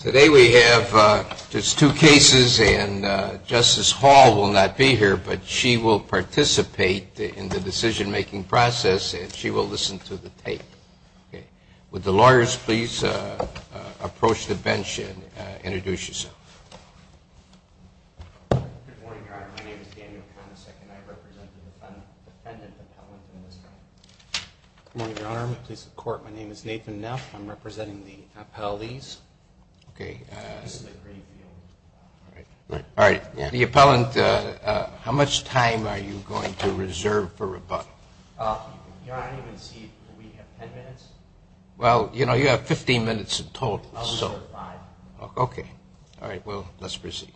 Today we have just two cases, and Justice Hall will not be here, but she will participate in the decision-making process, and she will listen to the tape. Would the lawyers please approach the bench and introduce yourselves? Good morning, Your Honor. My name is Daniel Konacek, and I represent the defendant appellant in this case. Good morning, Your Honor. My name is Nathan Neff. I'm representing the appellees. Okay. All right. The appellant, how much time are you going to reserve for rebuttal? Your Honor, I don't even see it. Do we have 10 minutes? Well, you know, you have 15 minutes in total. Okay. All right. Well, let's proceed.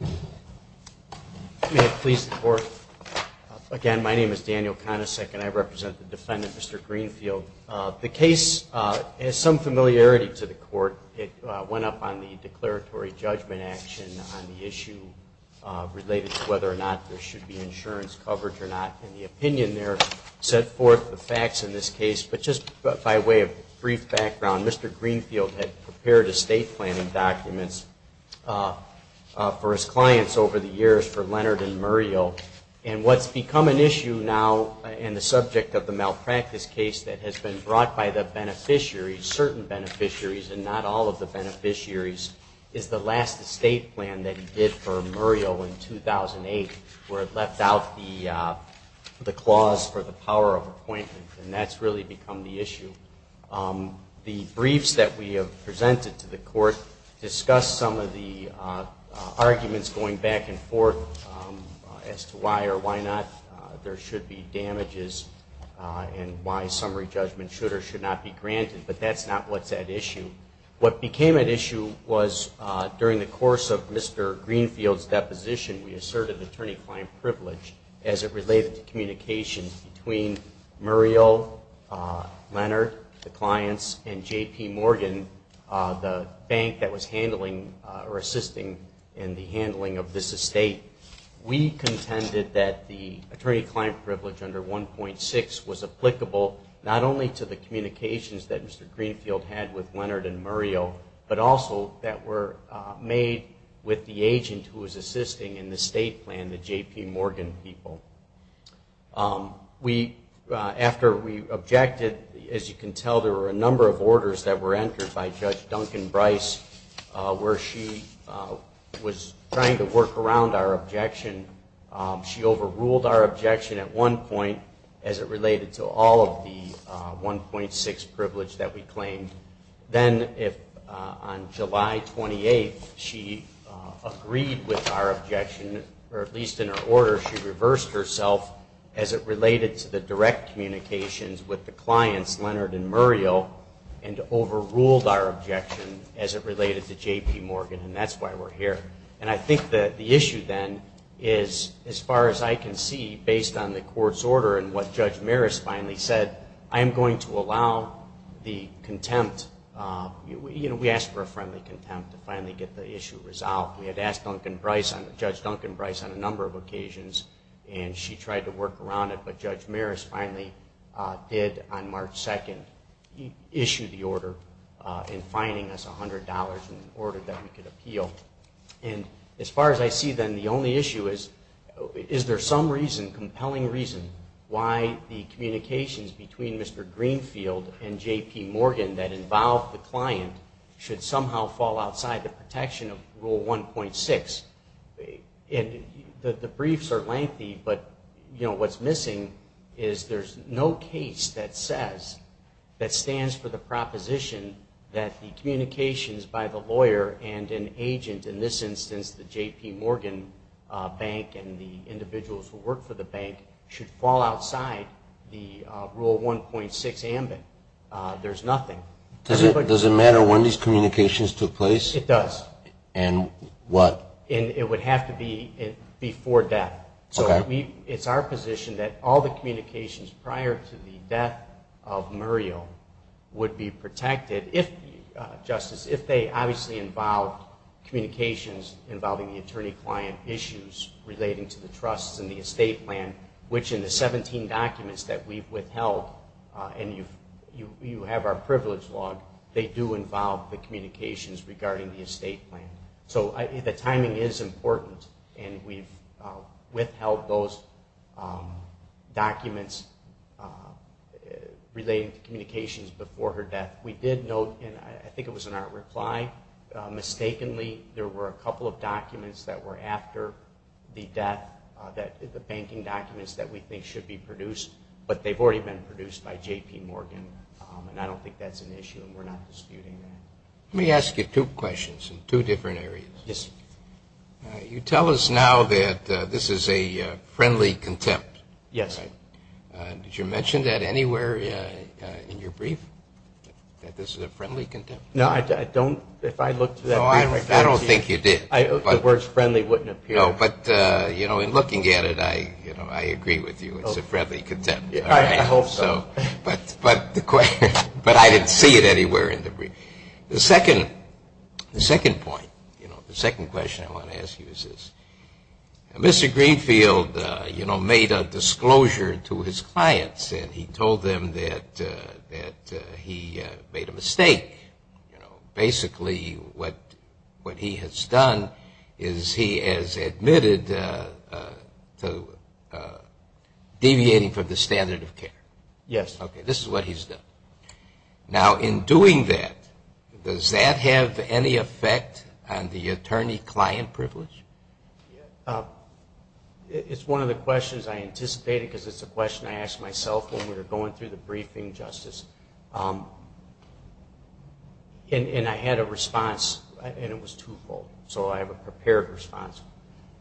May it please the Court? Again, my name is Daniel Konacek, and I represent the defendant, Mr. Greenfield. The case has some familiarity to the Court. It went up on the declaratory judgment action on the issue related to whether or not there should be insurance coverage or not. And the opinion there set forth the facts in this case. But just by way of brief background, Mr. Greenfield had prepared estate planning documents for his clients over the years for Leonard and Muriel. And what's become an issue now in the subject of the malpractice case that has been brought by the beneficiaries, certain beneficiaries and not all of the beneficiaries, is the last estate plan that he did for Muriel in 2008, where it left out the clause for the power of appointment. And that's really become the issue. The briefs that we have presented to the Court discuss some of the arguments going back and forth as to why or why not there should be damages and why summary judgment should or should not be granted. But that's not what's at issue. What became at issue was during the course of Mr. Greenfield's deposition, we asserted attorney-client privilege as it related to communications between Muriel, Leonard, the clients, and J.P. Morgan, the bank that was handling or assisting in the handling of this estate. We contended that the attorney-client privilege under 1.6 was applicable not only to the communications that Mr. Greenfield had with Leonard and Muriel, but also that were made with the agent who was assisting in the estate plan, the J.P. Morgan people. After we objected, as you can tell, there were a number of orders that were entered by Judge Duncan Bryce, where she was trying to work around our objection. She overruled our objection at one point as it related to all of the 1.6 privilege that we claimed. Then on July 28th, she agreed with our objection, or at least in her order, she reversed herself as it related to the direct communications with the clients, Leonard and Muriel, and overruled our objection as it related to J.P. Morgan, and that's why we're here. And I think that the issue then is, as far as I can see, based on the court's order and what Judge Maris finally said, I am going to allow the contempt. You know, we asked for a friendly contempt to finally get the issue resolved. We had asked Judge Duncan Bryce on a number of occasions, and she tried to work around it, but Judge Maris finally did on March 2nd issue the order in fining us $100 in order that we could appeal. And as far as I see then, the only issue is, is there some reason, compelling reason, why the communications between Mr. Greenfield and J.P. Morgan that involved the client should somehow fall outside the protection of Rule 1.6? And the briefs are lengthy, but, you know, what's missing is there's no case that says, that stands for the proposition that the communications by the lawyer and an agent, in this instance the J.P. Morgan bank and the individuals who work for the bank, should fall outside the Rule 1.6 ambit. There's nothing. Does it matter when these communications took place? It does. And what? It would have to be before death. Okay. So it's our position that all the communications prior to the death of Muriel would be protected if, Justice, if they obviously involved communications involving the attorney-client issues relating to the trusts and the estate plan, which in the 17 documents that we've withheld, and you have our privilege log, they do involve the communications regarding the estate plan. So the timing is important, and we've withheld those documents relating to communications before her death. We did note, and I think it was in our reply, mistakenly there were a couple of documents that were after the death, the banking documents that we think should be produced, but they've already been produced by J.P. Morgan, and I don't think that's an issue, and we're not disputing that. Let me ask you two questions in two different areas. Yes, sir. You tell us now that this is a friendly contempt. Yes, sir. Did you mention that anywhere in your brief, that this is a friendly contempt? No, I don't. If I looked at that brief, I don't think you did. The words friendly wouldn't appear. No, but, you know, in looking at it, I agree with you. It's a friendly contempt. I hope so. But I didn't see it anywhere in the brief. The second point, you know, the second question I want to ask you is this. Mr. Greenfield, you know, made a disclosure to his clients, and he told them that he made a mistake. Basically, what he has done is he has admitted to deviating from the standard of care. Yes. Okay, this is what he's done. Now, in doing that, does that have any effect on the attorney-client privilege? It's one of the questions I anticipated, because it's a question I asked myself when we were going through the briefing, Justice. And I had a response, and it was twofold. So I have a prepared response.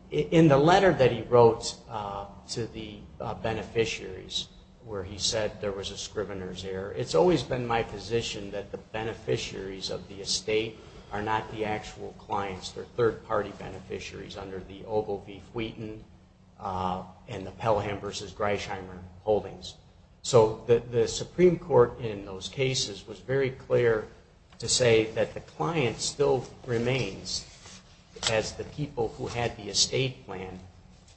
In the letter that he wrote to the beneficiaries where he said there was a scrivener's error, it's always been my position that the beneficiaries of the estate are not the actual clients. They're third-party beneficiaries under the Oval v. Wheaton and the Pelham v. Greysheimer holdings. So the Supreme Court in those cases was very clear to say that the client still remains as the people who had the estate plan.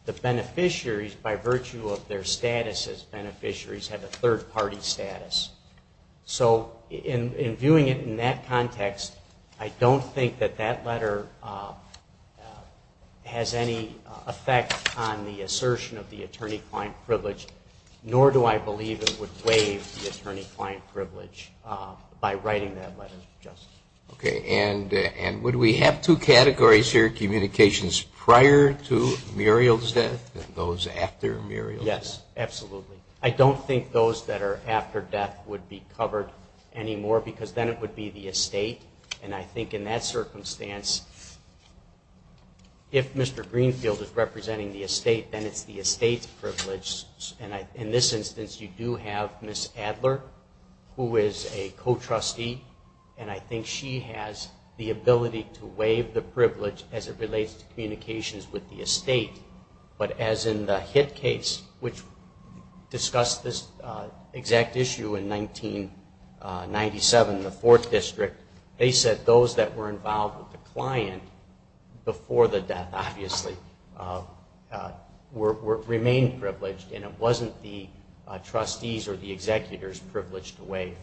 The beneficiaries, by virtue of their status as beneficiaries, had a third-party status. So in viewing it in that context, I don't think that that letter has any effect on the assertion of the attorney-client privilege, nor do I believe it would waive the attorney-client privilege by writing that letter, Justice. Okay. And would we have two categories here, communications prior to Muriel's death and those after Muriel's death? Yes, absolutely. I don't think those that are after death would be covered anymore because then it would be the estate. And I think in that circumstance, if Mr. Greenfield is representing the estate, then it's the estate's privilege. And in this instance, you do have Ms. Adler, who is a co-trustee, and I think she has the ability to waive the privilege as it relates to communications with the estate. But as in the Hitt case, which discussed this exact issue in 1997, the Fourth District, they said those that were involved with the client before the death obviously remained privileged and it wasn't the trustees or the executors privileged to waive.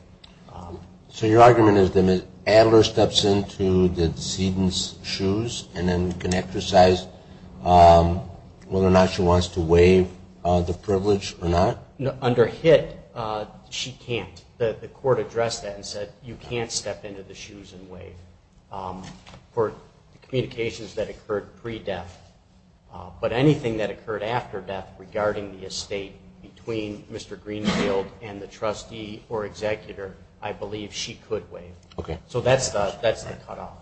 So your argument is that Ms. Adler steps into the decedent's shoes and then can exercise whether or not she wants to waive the privilege or not? Under Hitt, she can't. The court addressed that and said you can't step into the shoes and waive. For communications that occurred pre-death, but anything that occurred after death regarding the estate between Mr. Greenfield and the trustee or executor, I believe she could waive. So that's the cutoff.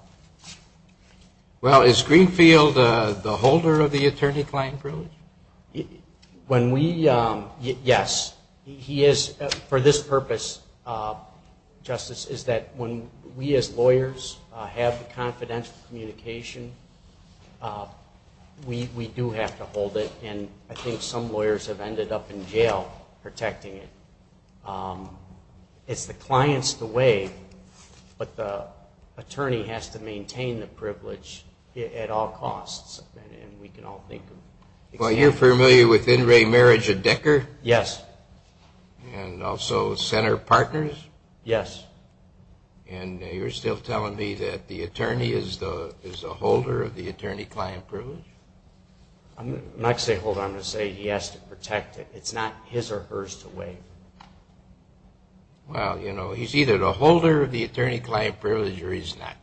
Well, is Greenfield the holder of the attorney-client privilege? Yes. For this purpose, Justice, is that when we as lawyers have the confidential communication, we do have to hold it. And I think some lawyers have ended up in jail protecting it. It's the client's to waive, but the attorney has to maintain the privilege at all costs. And we can all think of examples. Well, you're familiar with In Re Marriage of Decker? Yes. And also Center Partners? Yes. And you're still telling me that the attorney is the holder of the attorney-client privilege? I'm not going to say holder. I'm going to say he has to protect it. It's not his or hers to waive. Well, you know, he's either the holder of the attorney-client privilege or he's not.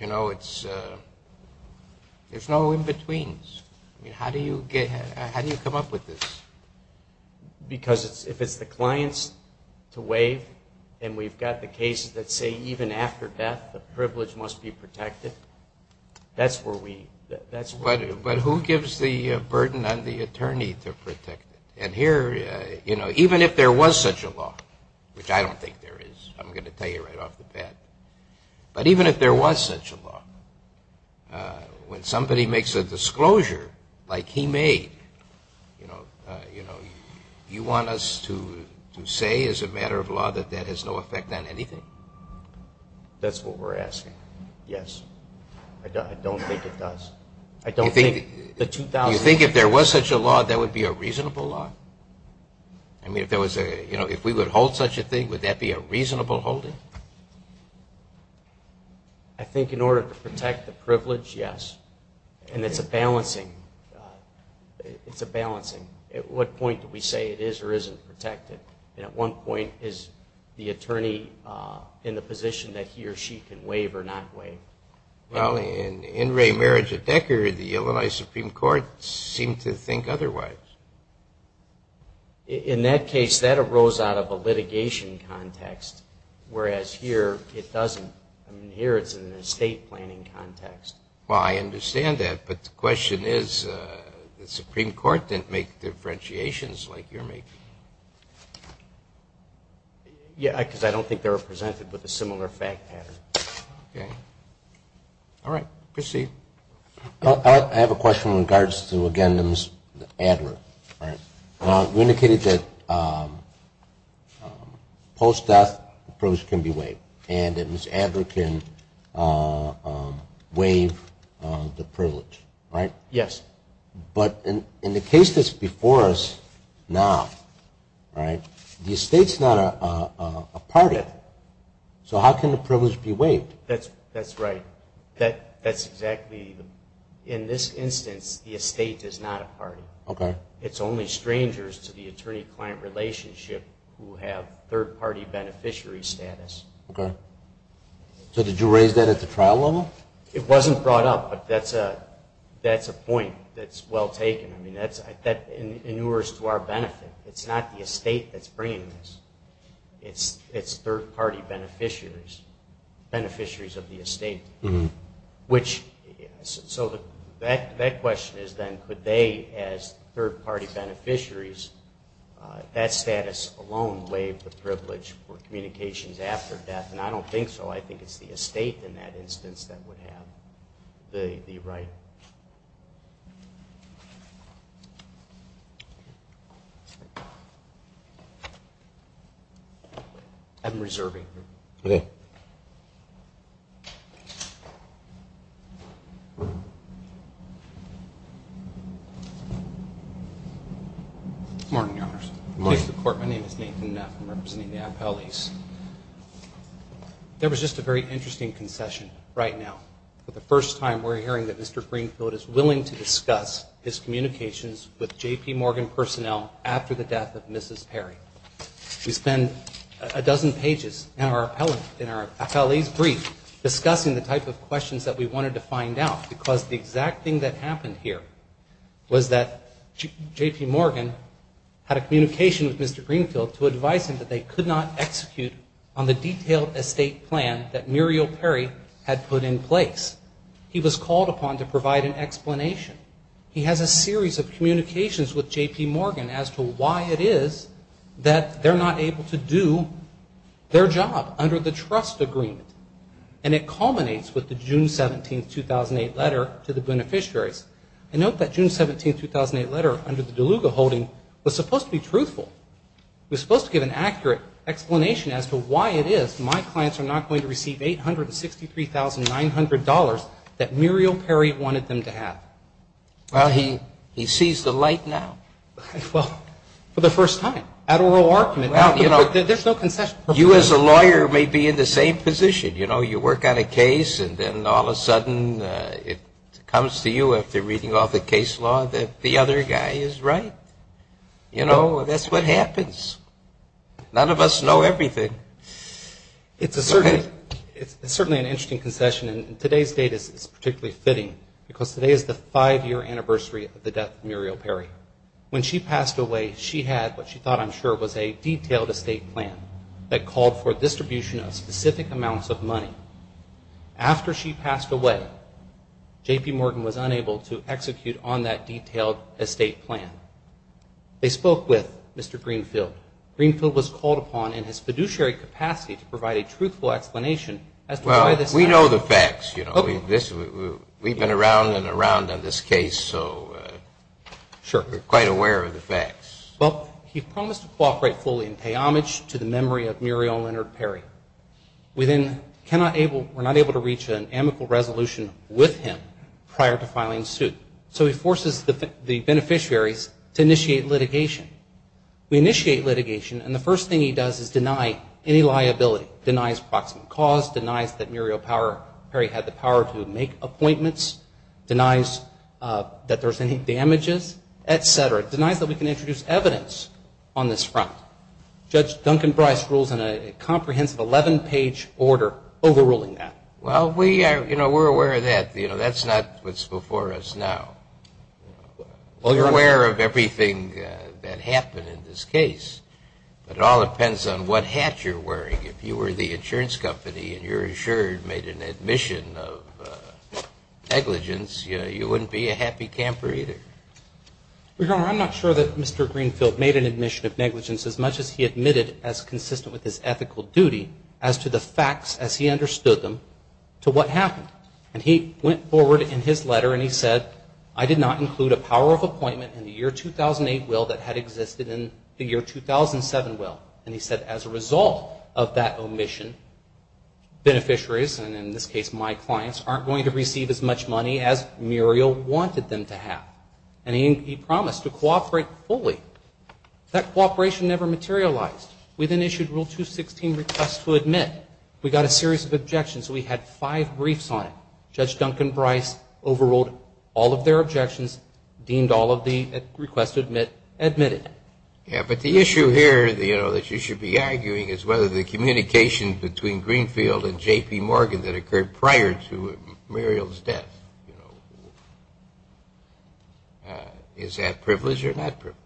You know, there's no in-betweens. How do you come up with this? Because if it's the client's to waive and we've got the cases that say even after death the privilege must be protected, that's where we go. But who gives the burden on the attorney to protect it? And here, you know, even if there was such a law, which I don't think there is, I'm going to tell you right off the bat, but even if there was such a law, when somebody makes a disclosure like he made, you know, you want us to say as a matter of law that that has no effect on anything? That's what we're asking. Yes. I don't think it does. You think if there was such a law, that would be a reasonable law? I mean, if we would hold such a thing, would that be a reasonable holding? I think in order to protect the privilege, yes. And it's a balancing. It's a balancing. At what point do we say it is or isn't protected? And at what point is the attorney in the position that he or she can waive or not waive? Well, in In Re Marriage of Decker, the Illinois Supreme Court seemed to think otherwise. In that case, that arose out of a litigation context, whereas here it doesn't. I mean, here it's in an estate planning context. Well, I understand that. But the question is the Supreme Court didn't make differentiations like you're making. Yeah, because I don't think they were presented with a similar fact pattern. Okay. All right. Proceed. I have a question in regards to, again, Ms. Adler. All right. You indicated that post-death the privilege can be waived and that Ms. Adler can waive the privilege, right? Yes. But in the case that's before us now, right, the estate's not a party. So how can the privilege be waived? That's right. That's exactly. In this instance, the estate is not a party. Okay. It's only strangers to the attorney-client relationship who have third-party beneficiary status. Okay. So did you raise that at the trial level? It wasn't brought up, but that's a point that's well taken. I mean, that inures to our benefit. It's not the estate that's bringing this. It's third-party beneficiaries, beneficiaries of the estate. So that question is then, could they, as third-party beneficiaries, that status alone waive the privilege for communications after death? And I don't think so. I think it's the estate in that instance that would have the right. I'm reserving. Okay. Good morning, Your Honors. Good morning to the court. My name is Nathan Neff. I'm representing the appellees. There was just a very interesting concession right now. For the first time, we're hearing that Mr. Greenfield is willing to discuss his communications with J.P. Morgan personnel after the death of Mrs. Perry. We spent a dozen pages in our appellee's brief discussing the type of questions that we wanted to find out, because the exact thing that happened here was that J.P. Morgan had a communication with Mr. Greenfield to advise him that they could not execute on the detailed estate plan that Muriel Perry had put in place. He was called upon to provide an explanation. He has a series of communications with J.P. Morgan as to why it is that they're not able to do their job under the trust agreement. And it culminates with the June 17, 2008, letter to the beneficiaries. And note that June 17, 2008, letter under the DeLuga holding was supposed to be truthful. It was supposed to give an accurate explanation as to why it is my clients are not going to receive $863,900 that Muriel Perry wanted them to have. Well, he sees the light now. Well, for the first time at oral argument. There's no concession. You as a lawyer may be in the same position. You know, you work on a case and then all of a sudden it comes to you after reading all the case law that the other guy is right. You know, that's what happens. None of us know everything. It's certainly an interesting concession. And today's date is particularly fitting because today is the five-year anniversary of the death of Muriel Perry. When she passed away, she had what she thought, I'm sure, was a detailed estate plan that called for distribution of specific amounts of money. After she passed away, J.P. Morgan was unable to execute on that detailed estate plan. They spoke with Mr. Greenfield. Greenfield was called upon in his fiduciary capacity to provide a truthful explanation as to why this happened. Well, we know the facts, you know. We've been around and around on this case, so we're quite aware of the facts. Well, he promised to cooperate fully and pay homage to the memory of Muriel Leonard Perry. We're not able to reach an amicable resolution with him prior to filing suit. So he forces the beneficiaries to initiate litigation. We initiate litigation, and the first thing he does is deny any liability, denies proximate cause, denies that Muriel Perry had the power to make appointments, denies that there's any damages, et cetera, denies that we can introduce evidence on this front. Judge Duncan Bryce rules in a comprehensive 11-page order overruling that. Well, we are, you know, we're aware of that. You know, that's not what's before us now. Well, you're aware of everything that happened in this case, but it all depends on what hat you're wearing. If you were the insurance company and your insurer made an admission of negligence, you wouldn't be a happy camper either. Your Honor, I'm not sure that Mr. Greenfield made an admission of negligence as much as he admitted as consistent with his ethical duty as to the facts as he understood them to what happened. And he went forward in his letter and he said, I did not include a power of appointment in the year 2008 will that had existed in the year 2007 will. And he said as a result of that omission, beneficiaries, and in this case my clients, aren't going to receive as much money as Muriel wanted them to have. And he promised to cooperate fully. That cooperation never materialized. We then issued Rule 216, request to admit. We got a series of objections. We had five briefs on it. Judge Duncan Bryce overruled all of their objections, deemed all of the requests to admit, admitted. Yeah, but the issue here that you should be arguing is whether the communication between Greenfield and J.P. Morgan that occurred prior to Muriel's death, you know, is that privileged or not privileged?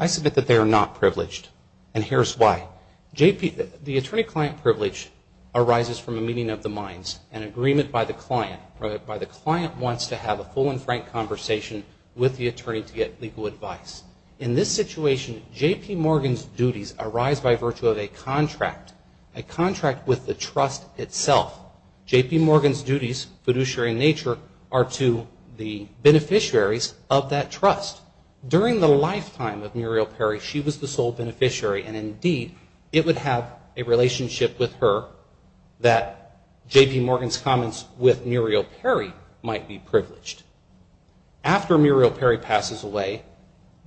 I submit that they are not privileged. And here's why. The attorney-client privilege arises from a meeting of the minds, an agreement by the client, where the client wants to have a full and frank conversation with the attorney to get legal advice. In this situation, J.P. Morgan's duties arise by virtue of a contract, a contract with the trust itself. J.P. Morgan's duties, fiduciary in nature, are to the beneficiaries of that trust. During the lifetime of Muriel Perry, she was the sole beneficiary, and indeed, it would have a relationship with her that J.P. Morgan's comments with Muriel Perry might be privileged. After Muriel Perry passes away,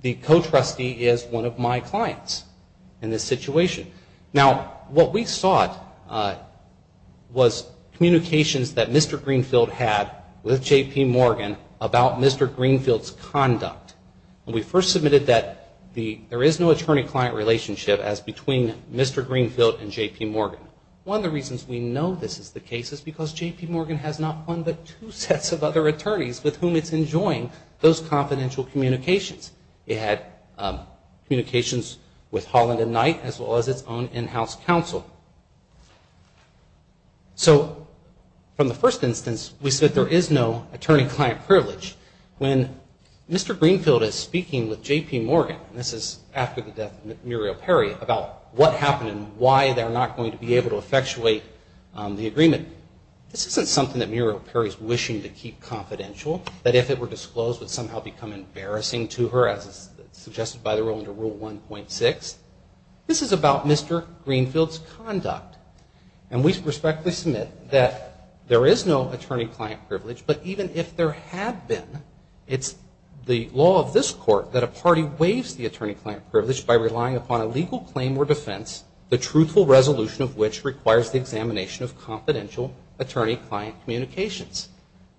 the co-trustee is one of my clients in this situation. Now, what we sought was communications that Mr. Greenfield had with J.P. Morgan about Mr. Greenfield's conduct. When we first submitted that, there is no attorney-client relationship as between Mr. Greenfield and J.P. Morgan. One of the reasons we know this is the case is because J.P. Morgan has not one but two sets of other attorneys with whom it's enjoying those confidential communications. It had communications with Holland and Knight, as well as its own in-house counsel. So from the first instance, we said there is no attorney-client privilege. When Mr. Greenfield is speaking with J.P. Morgan, and this is after the death of Muriel Perry, about what happened and why they're not going to be able to effectuate the agreement, this isn't something that Muriel Perry's wishing to keep confidential, that if it were disclosed would somehow become embarrassing to her, as suggested by the rule under Rule 1.6. This is about Mr. Greenfield's conduct. And we respectfully submit that there is no attorney-client privilege, but even if there had been, it's the law of this Court that a party waives the attorney-client privilege by relying upon a legal claim or defense, the truthful resolution of which requires the examination of confidential attorney-client communications.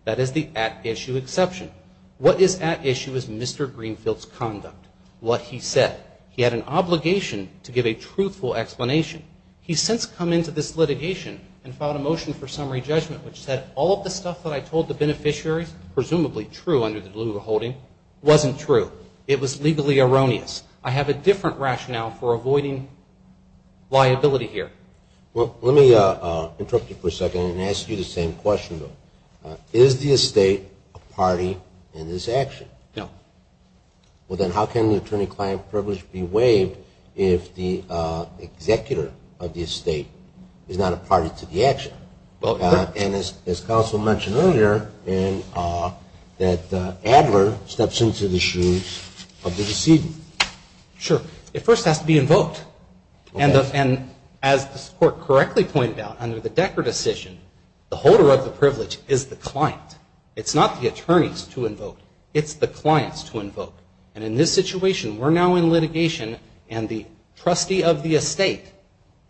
That is the at-issue exception. What is at issue is Mr. Greenfield's conduct, what he said. He had an obligation to give a truthful explanation. He's since come into this litigation and filed a motion for summary judgment, which said all of the stuff that I told the beneficiaries, presumably true under the Deliverable Holding, wasn't true. It was legally erroneous. I have a different rationale for avoiding liability here. Well, let me interrupt you for a second and ask you the same question, though. Is the estate a party in this action? No. Well, then how can the attorney-client privilege be waived if the executor of the estate is not a party to the action? And as counsel mentioned earlier, that Adler steps into the shoes of the decedent. Sure. It first has to be invoked. And as the Court correctly pointed out, under the Decker decision, the holder of the privilege is the client. It's not the attorneys to invoke. It's the clients to invoke. And in this situation, we're now in litigation and the trustee of the estate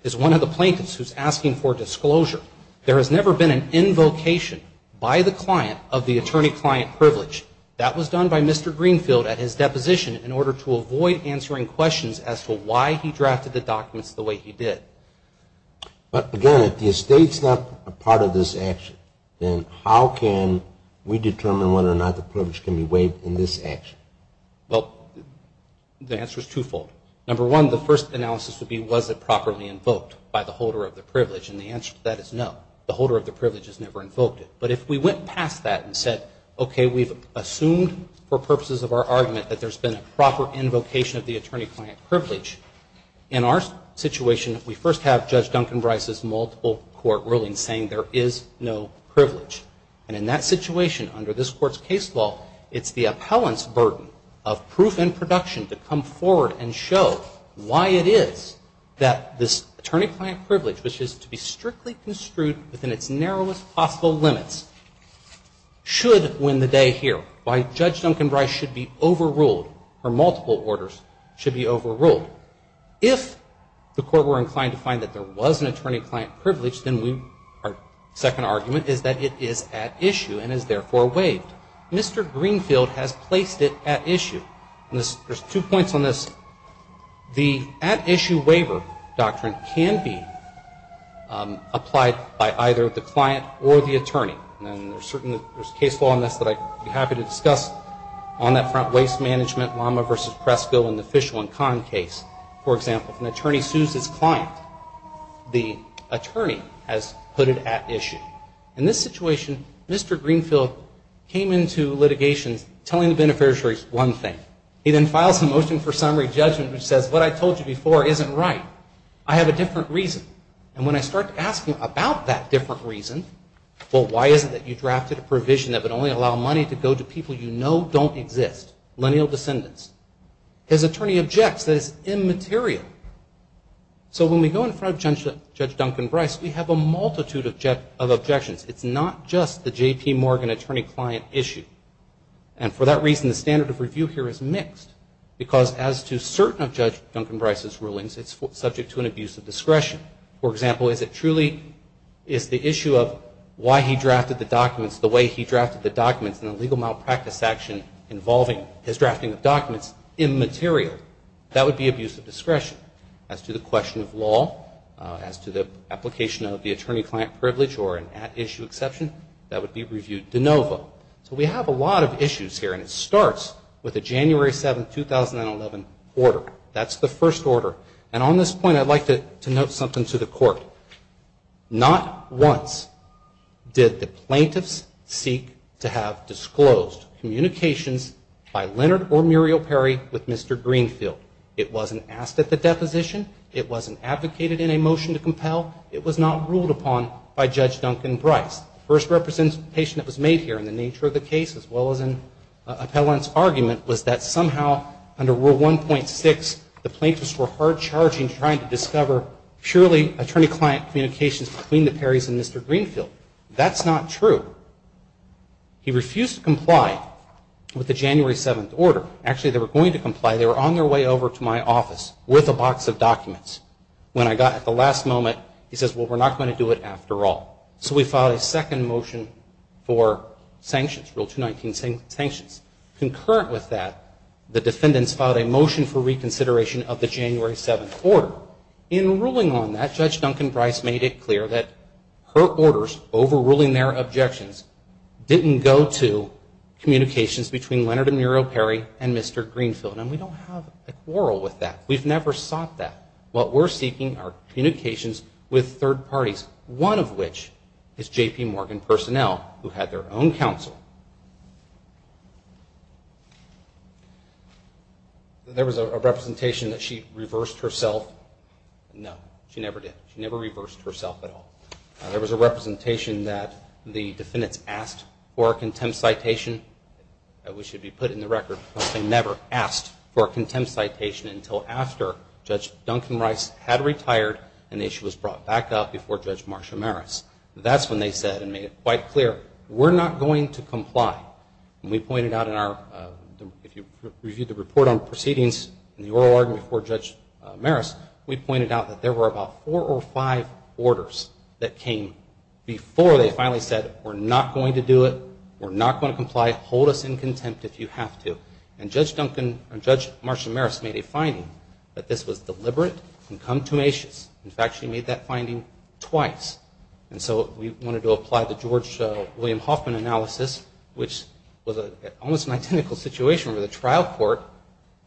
is one of the plaintiffs who's asking for disclosure. There has never been an invocation by the client of the attorney-client privilege. That was done by Mr. Greenfield at his deposition in order to avoid answering questions as to why he drafted the documents the way he did. But, again, if the estate's not a part of this action, then how can we determine whether or not the privilege can be waived in this action? Well, the answer is twofold. Number one, the first analysis would be, was it properly invoked by the holder of the privilege? And the answer to that is no. The holder of the privilege has never invoked it. But if we went past that and said, okay, we've assumed for purposes of our argument that there's been a proper invocation of the attorney-client privilege, in our situation, we first have Judge Duncan Brice's multiple court rulings saying there is no privilege. And in that situation, under this Court's case law, it's the appellant's burden of proof and production to come forward and show why it is that this attorney-client privilege, which is to be strictly construed within its narrowest possible limits, should win the day here. Why Judge Duncan Brice should be overruled, or multiple orders should be overruled. If the Court were inclined to find that there was an attorney-client privilege, then our second argument is that it is at issue and is therefore waived. Mr. Greenfield has placed it at issue. And there's two points on this. The at-issue waiver doctrine can be applied by either the client or the attorney. And there's a case law on this that I'd be happy to discuss on that front, Waste Management, Lama v. Pressville, and the Fishel and Kahn case. For example, if an attorney sues his client, the attorney has put it at issue. In this situation, Mr. Greenfield came into litigation telling the beneficiaries one thing. He then files a motion for summary judgment which says, what I told you before isn't right. I have a different reason. And when I start to ask him about that different reason, well, why is it that you drafted a provision that would only allow money to go to people you know don't exist, lineal descendants? His attorney objects that it's immaterial. So when we go in front of Judge Duncan Brice, we have a multitude of objections. It's not just the J.P. Morgan attorney-client issue. And for that reason, the standard of review here is mixed. Because as to certain of Judge Duncan Brice's rulings, it's subject to an abuse of discretion. For example, is it truly is the issue of why he drafted the documents the way he drafted the documents in a legal malpractice action involving his drafting of documents immaterial? That would be abuse of discretion. As to the question of law, as to the application of the attorney-client privilege or an at-issue exception, that would be reviewed de novo. So we have a lot of issues here. And it starts with the January 7, 2011 order. That's the first order. And on this point, I'd like to note something to the Court. Not once did the plaintiffs seek to have disclosed communications by Leonard or Muriel Perry with Mr. Greenfield. It wasn't asked at the deposition. It wasn't advocated in a motion to compel. It was not ruled upon by Judge Duncan Brice. The first representation that was made here in the nature of the case as well as in Appellant's argument was that somehow under Rule 1.6, the plaintiffs were hard-charging trying to discover purely attorney-client communications between the Perrys and Mr. Greenfield. That's not true. He refused to comply with the January 7 order. Actually, they were going to comply. They were on their way over to my office with a box of documents. When I got at the last moment, he says, well, we're not going to do it after all. So we filed a second motion for sanctions, Rule 219, sanctions. Concurrent with that, the defendants filed a motion for reconsideration of the January 7 order. In ruling on that, Judge Duncan Brice made it clear that her orders, overruling their objections, didn't go to communications between Leonard and Muriel Perry and Mr. Greenfield. And we don't have a quarrel with that. We've never sought that. What we're seeking are communications with third parties, one of which is J.P. Morgan personnel, who had their own counsel. There was a representation that she reversed herself. No, she never did. She never reversed herself at all. There was a representation that the defendants asked for a contempt citation. That should be put in the record. They never asked for a contempt citation until after Judge Duncan Brice had retired and the issue was brought back up before Judge Marsha Maris. That's when they said and made it quite clear, we're not going to comply. And we pointed out in our, if you reviewed the report on proceedings in the oral argument before Judge Maris, we pointed out that there were about four or five orders that came before they finally said, we're not going to do it. We're not going to comply. Hold us in contempt if you have to. And Judge Marsha Maris made a finding that this was deliberate and contumacious. In fact, she made that finding twice. And so we wanted to apply the George William Hoffman analysis, which was almost an identical situation where the trial court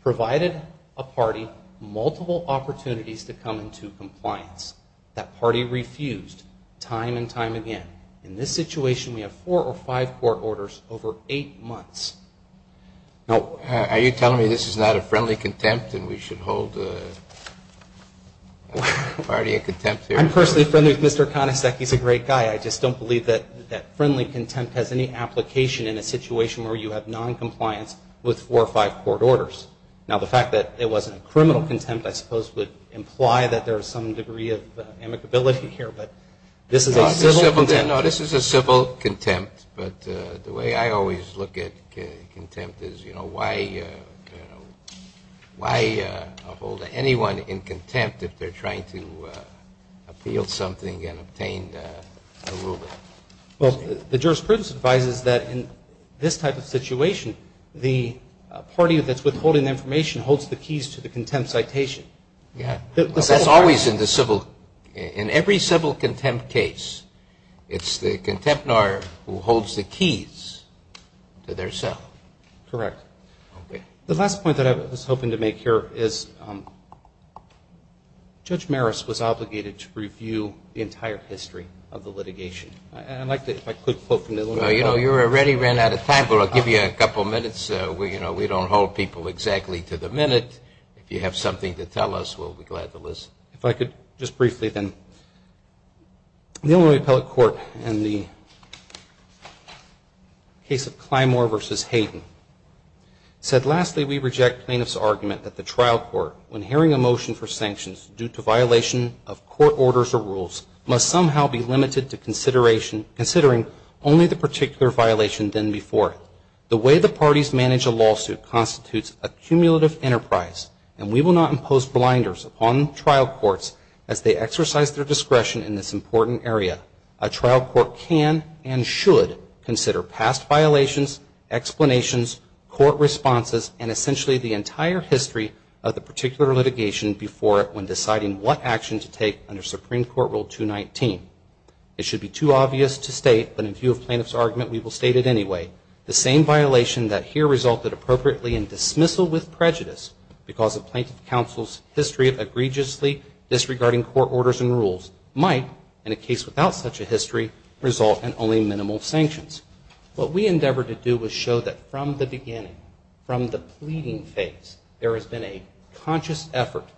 provided a party multiple opportunities to come into compliance. That party refused time and time again. In this situation, we have four or five court orders over eight months. Now, are you telling me this is not a friendly contempt and we should hold the party in contempt here? I'm personally friendly with Mr. Konacek. He's a great guy. I just don't believe that friendly contempt has any application in a situation where you have noncompliance with four or five court orders. Now, the fact that it wasn't a criminal contempt, I suppose, would imply that there is some degree of amicability here. But this is a civil contempt. No, this is a civil contempt. But the way I always look at contempt is, you know, why hold anyone in contempt if they're trying to appeal something and obtain a ruling? Well, the jurisprudence advises that in this type of situation, the party that's withholding information holds the keys to the contempt citation. Yeah. Well, that's always in the civil – in every civil contempt case, it's the contempt lawyer who holds the keys to their cell. Correct. Okay. The last point that I was hoping to make here is Judge Maris was obligated to review the entire history of the litigation. And I'd like to, if I could, quote from the Illuminati. Well, you know, you already ran out of time, but I'll give you a couple minutes. You know, we don't hold people exactly to the minute. If you have something to tell us, we'll be glad to listen. If I could just briefly then. The Illinois Appellate Court in the case of Clymore v. Hayden said, lastly, we reject plaintiff's argument that the trial court, when hearing a motion for sanctions due to violation of court orders or rules, must somehow be limited to considering only the particular violation then before it. The way the parties manage a lawsuit constitutes a cumulative enterprise, and we will not impose blinders upon trial courts as they exercise their discretion in this important area. A trial court can and should consider past violations, explanations, court responses, and essentially the entire history of the particular litigation before it to take under Supreme Court Rule 219. It should be too obvious to state, but in view of plaintiff's argument, we will state it anyway. The same violation that here resulted appropriately in dismissal with prejudice because of plaintiff counsel's history of egregiously disregarding court orders and rules might, in a case without such a history, result in only minimal sanctions. What we endeavor to do is show that from the beginning, from the pleading phase, there has been a conscious effort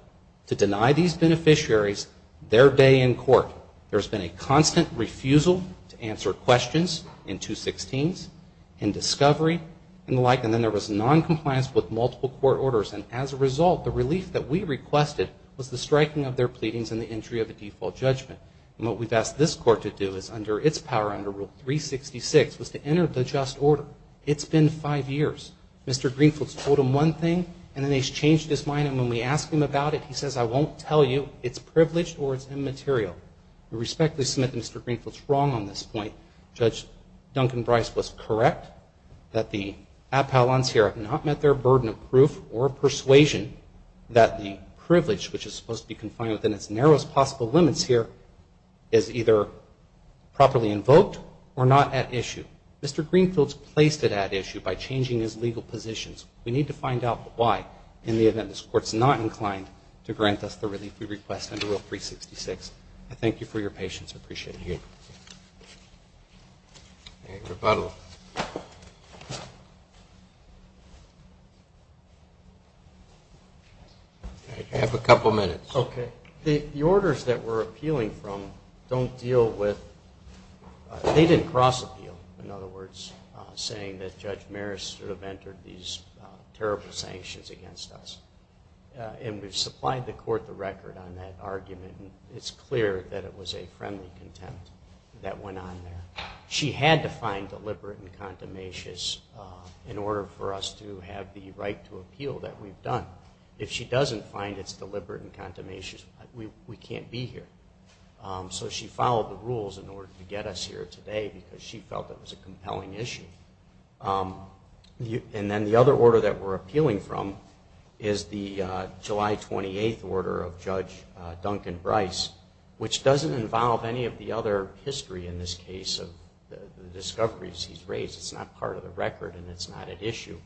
to deny these beneficiaries their day in court. There's been a constant refusal to answer questions in 216s, in discovery, and the like, and then there was noncompliance with multiple court orders. And as a result, the relief that we requested was the striking of their pleadings and the entry of a default judgment. And what we've asked this court to do is, under its power, under Rule 366, was to enter the just order. It's been five years. Mr. Greenfield's told him one thing, and then he's changed his mind, and when we ask him about it, he says, I won't tell you it's privileged or it's immaterial. We respectfully submit that Mr. Greenfield's wrong on this point. Judge Duncan Brice was correct that the appellants here have not met their burden of proof or of persuasion that the privilege, which is supposed to be confined within its narrowest possible limits here, is either properly invoked or not at issue. Mr. Greenfield's placed it at issue by changing his legal positions. We need to find out why in the event this court's not inclined to grant us the relief we request under Rule 366. I thank you for your patience. I appreciate it. Thank you. All right, rebuttal. I have a couple minutes. Okay. The orders that we're appealing from don't deal with they didn't cross-appeal, in other words, saying that Judge Maris should have entered these terrible sanctions against us. And we've supplied the court the record on that argument, and it's clear that it was a friendly contempt that went on there. She had to find deliberate and contumacious in order for us to have the right to appeal that we've done. If she doesn't find it's deliberate and contumacious, we can't be here. So she followed the rules in order to get us here today because she felt it was a compelling issue. And then the other order that we're appealing from is the July 28th order of Judge Duncan Brice, which doesn't involve any of the other history in this case of the discoveries he's raised. It's not part of the record, and it's not at issue.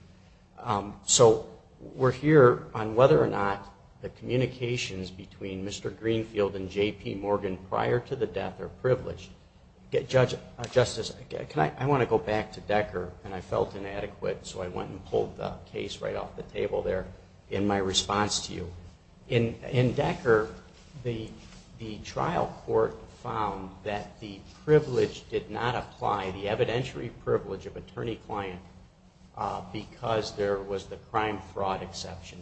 So we're here on whether or not the communications between Mr. Greenfield and J.P. Morgan prior to the death are privileged. Justice, I want to go back to Decker, and I felt inadequate, so I went and pulled the case right off the table there in my response to you. In Decker, the trial court found that the privilege did not apply, the evidentiary privilege of attorney-client, because there was the crime-fraud exception.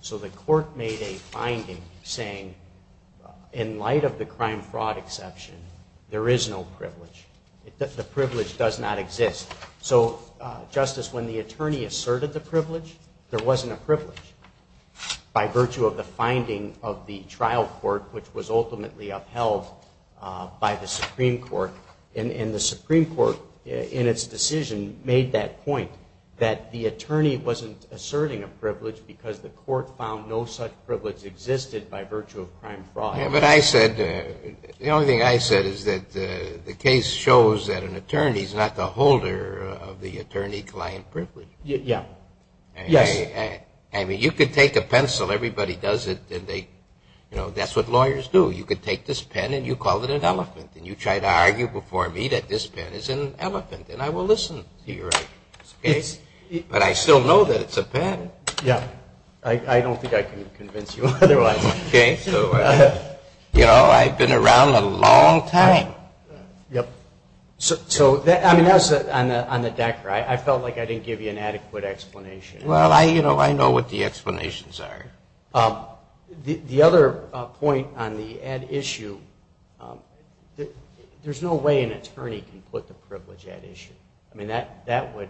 So the court made a finding saying, in light of the crime-fraud exception, there is no privilege. The privilege does not exist. So, Justice, when the attorney asserted the privilege, there wasn't a privilege. By virtue of the finding of the trial court, which was ultimately upheld by the Supreme Court, and the Supreme Court, in its decision, made that point, that the attorney wasn't asserting a privilege because the court found no such privilege existed by virtue of crime-fraud. Yeah, but I said, the only thing I said is that the case shows that an attorney is not the holder of the attorney-client privilege. Yeah. Yes. I mean, you could take a pencil, everybody does it, and they, you know, that's what lawyers do. You could take this pen and you call it an elephant, and you try to argue before me that this pen is an elephant, and I will listen to your arguments, okay? But I still know that it's a pen. Yeah. I don't think I can convince you otherwise. Okay. So, you know, I've been around a long time. Yep. So, I mean, on the Decker, I felt like I didn't give you an adequate explanation. Well, I, you know, I know what the explanations are. The other point on the ad issue, there's no way an attorney can put the privilege ad issue. I mean, that would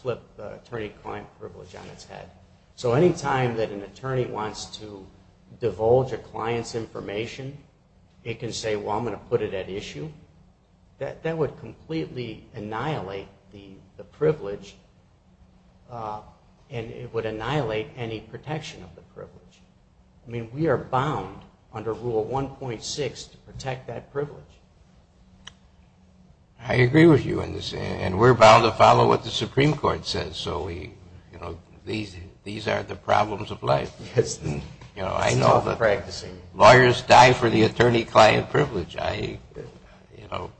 flip attorney-client privilege on its head. So anytime that an attorney wants to divulge a client's information, it can say, well, I'm going to put it ad issue. That would completely annihilate the privilege, and it would annihilate any protection of the privilege. I mean, we are bound under Rule 1.6 to protect that privilege. I agree with you on this, and we're bound to follow what the Supreme Court says. So we, you know, these are the problems of life. Yes. You know, I know that lawyers die for the attorney-client privilege. I, you know,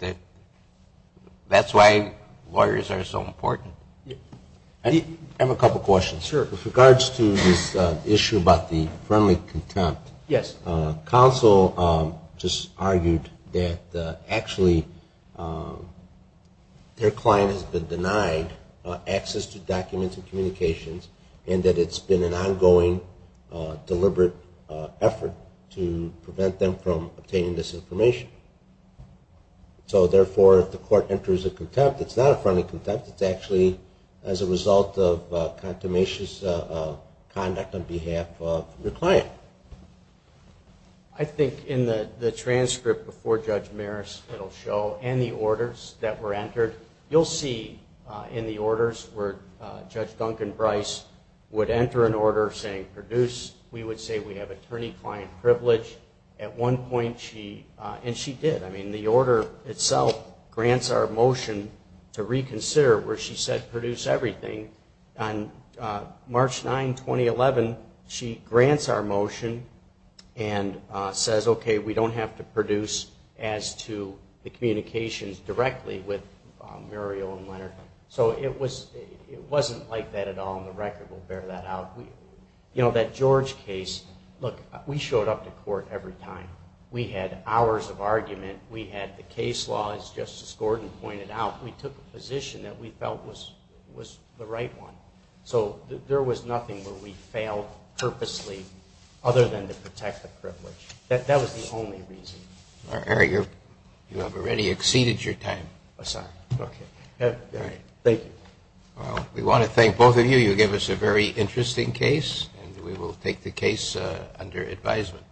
that's why lawyers are so important. I have a couple questions. Sure. With regards to this issue about the friendly contempt. Yes. Counsel just argued that actually their client has been denied access to documents and communications and that it's been an ongoing, deliberate effort to prevent them from obtaining this information. So therefore, if the court enters a contempt, it's not a friendly contempt. It's actually as a result of a contemptuous conduct on behalf of the client. I think in the transcript before Judge Maris, it'll show, and the orders that were entered, you'll see in the orders where Judge Duncan Brice would enter an order saying produce, we would say we have attorney-client privilege. At one point she, and she did. I mean, the order itself grants our motion to reconsider where she said produce everything. On March 9, 2011, she grants our motion and says, okay, we don't have to produce as to the communications directly with Muriel and Leonard. So it wasn't like that at all on the record. We'll bear that out. You know, that George case, look, we showed up to court every time. We had hours of argument. We had the case law, as Justice Gordon pointed out. We took a position that we felt was the right one. So there was nothing where we failed purposely other than to protect the privilege. That was the only reason. All right, Harry, you have already exceeded your time. I'm sorry. Okay. All right. Thank you. Well, we want to thank both of you. You gave us a very interesting case, and we will take the case under advisement.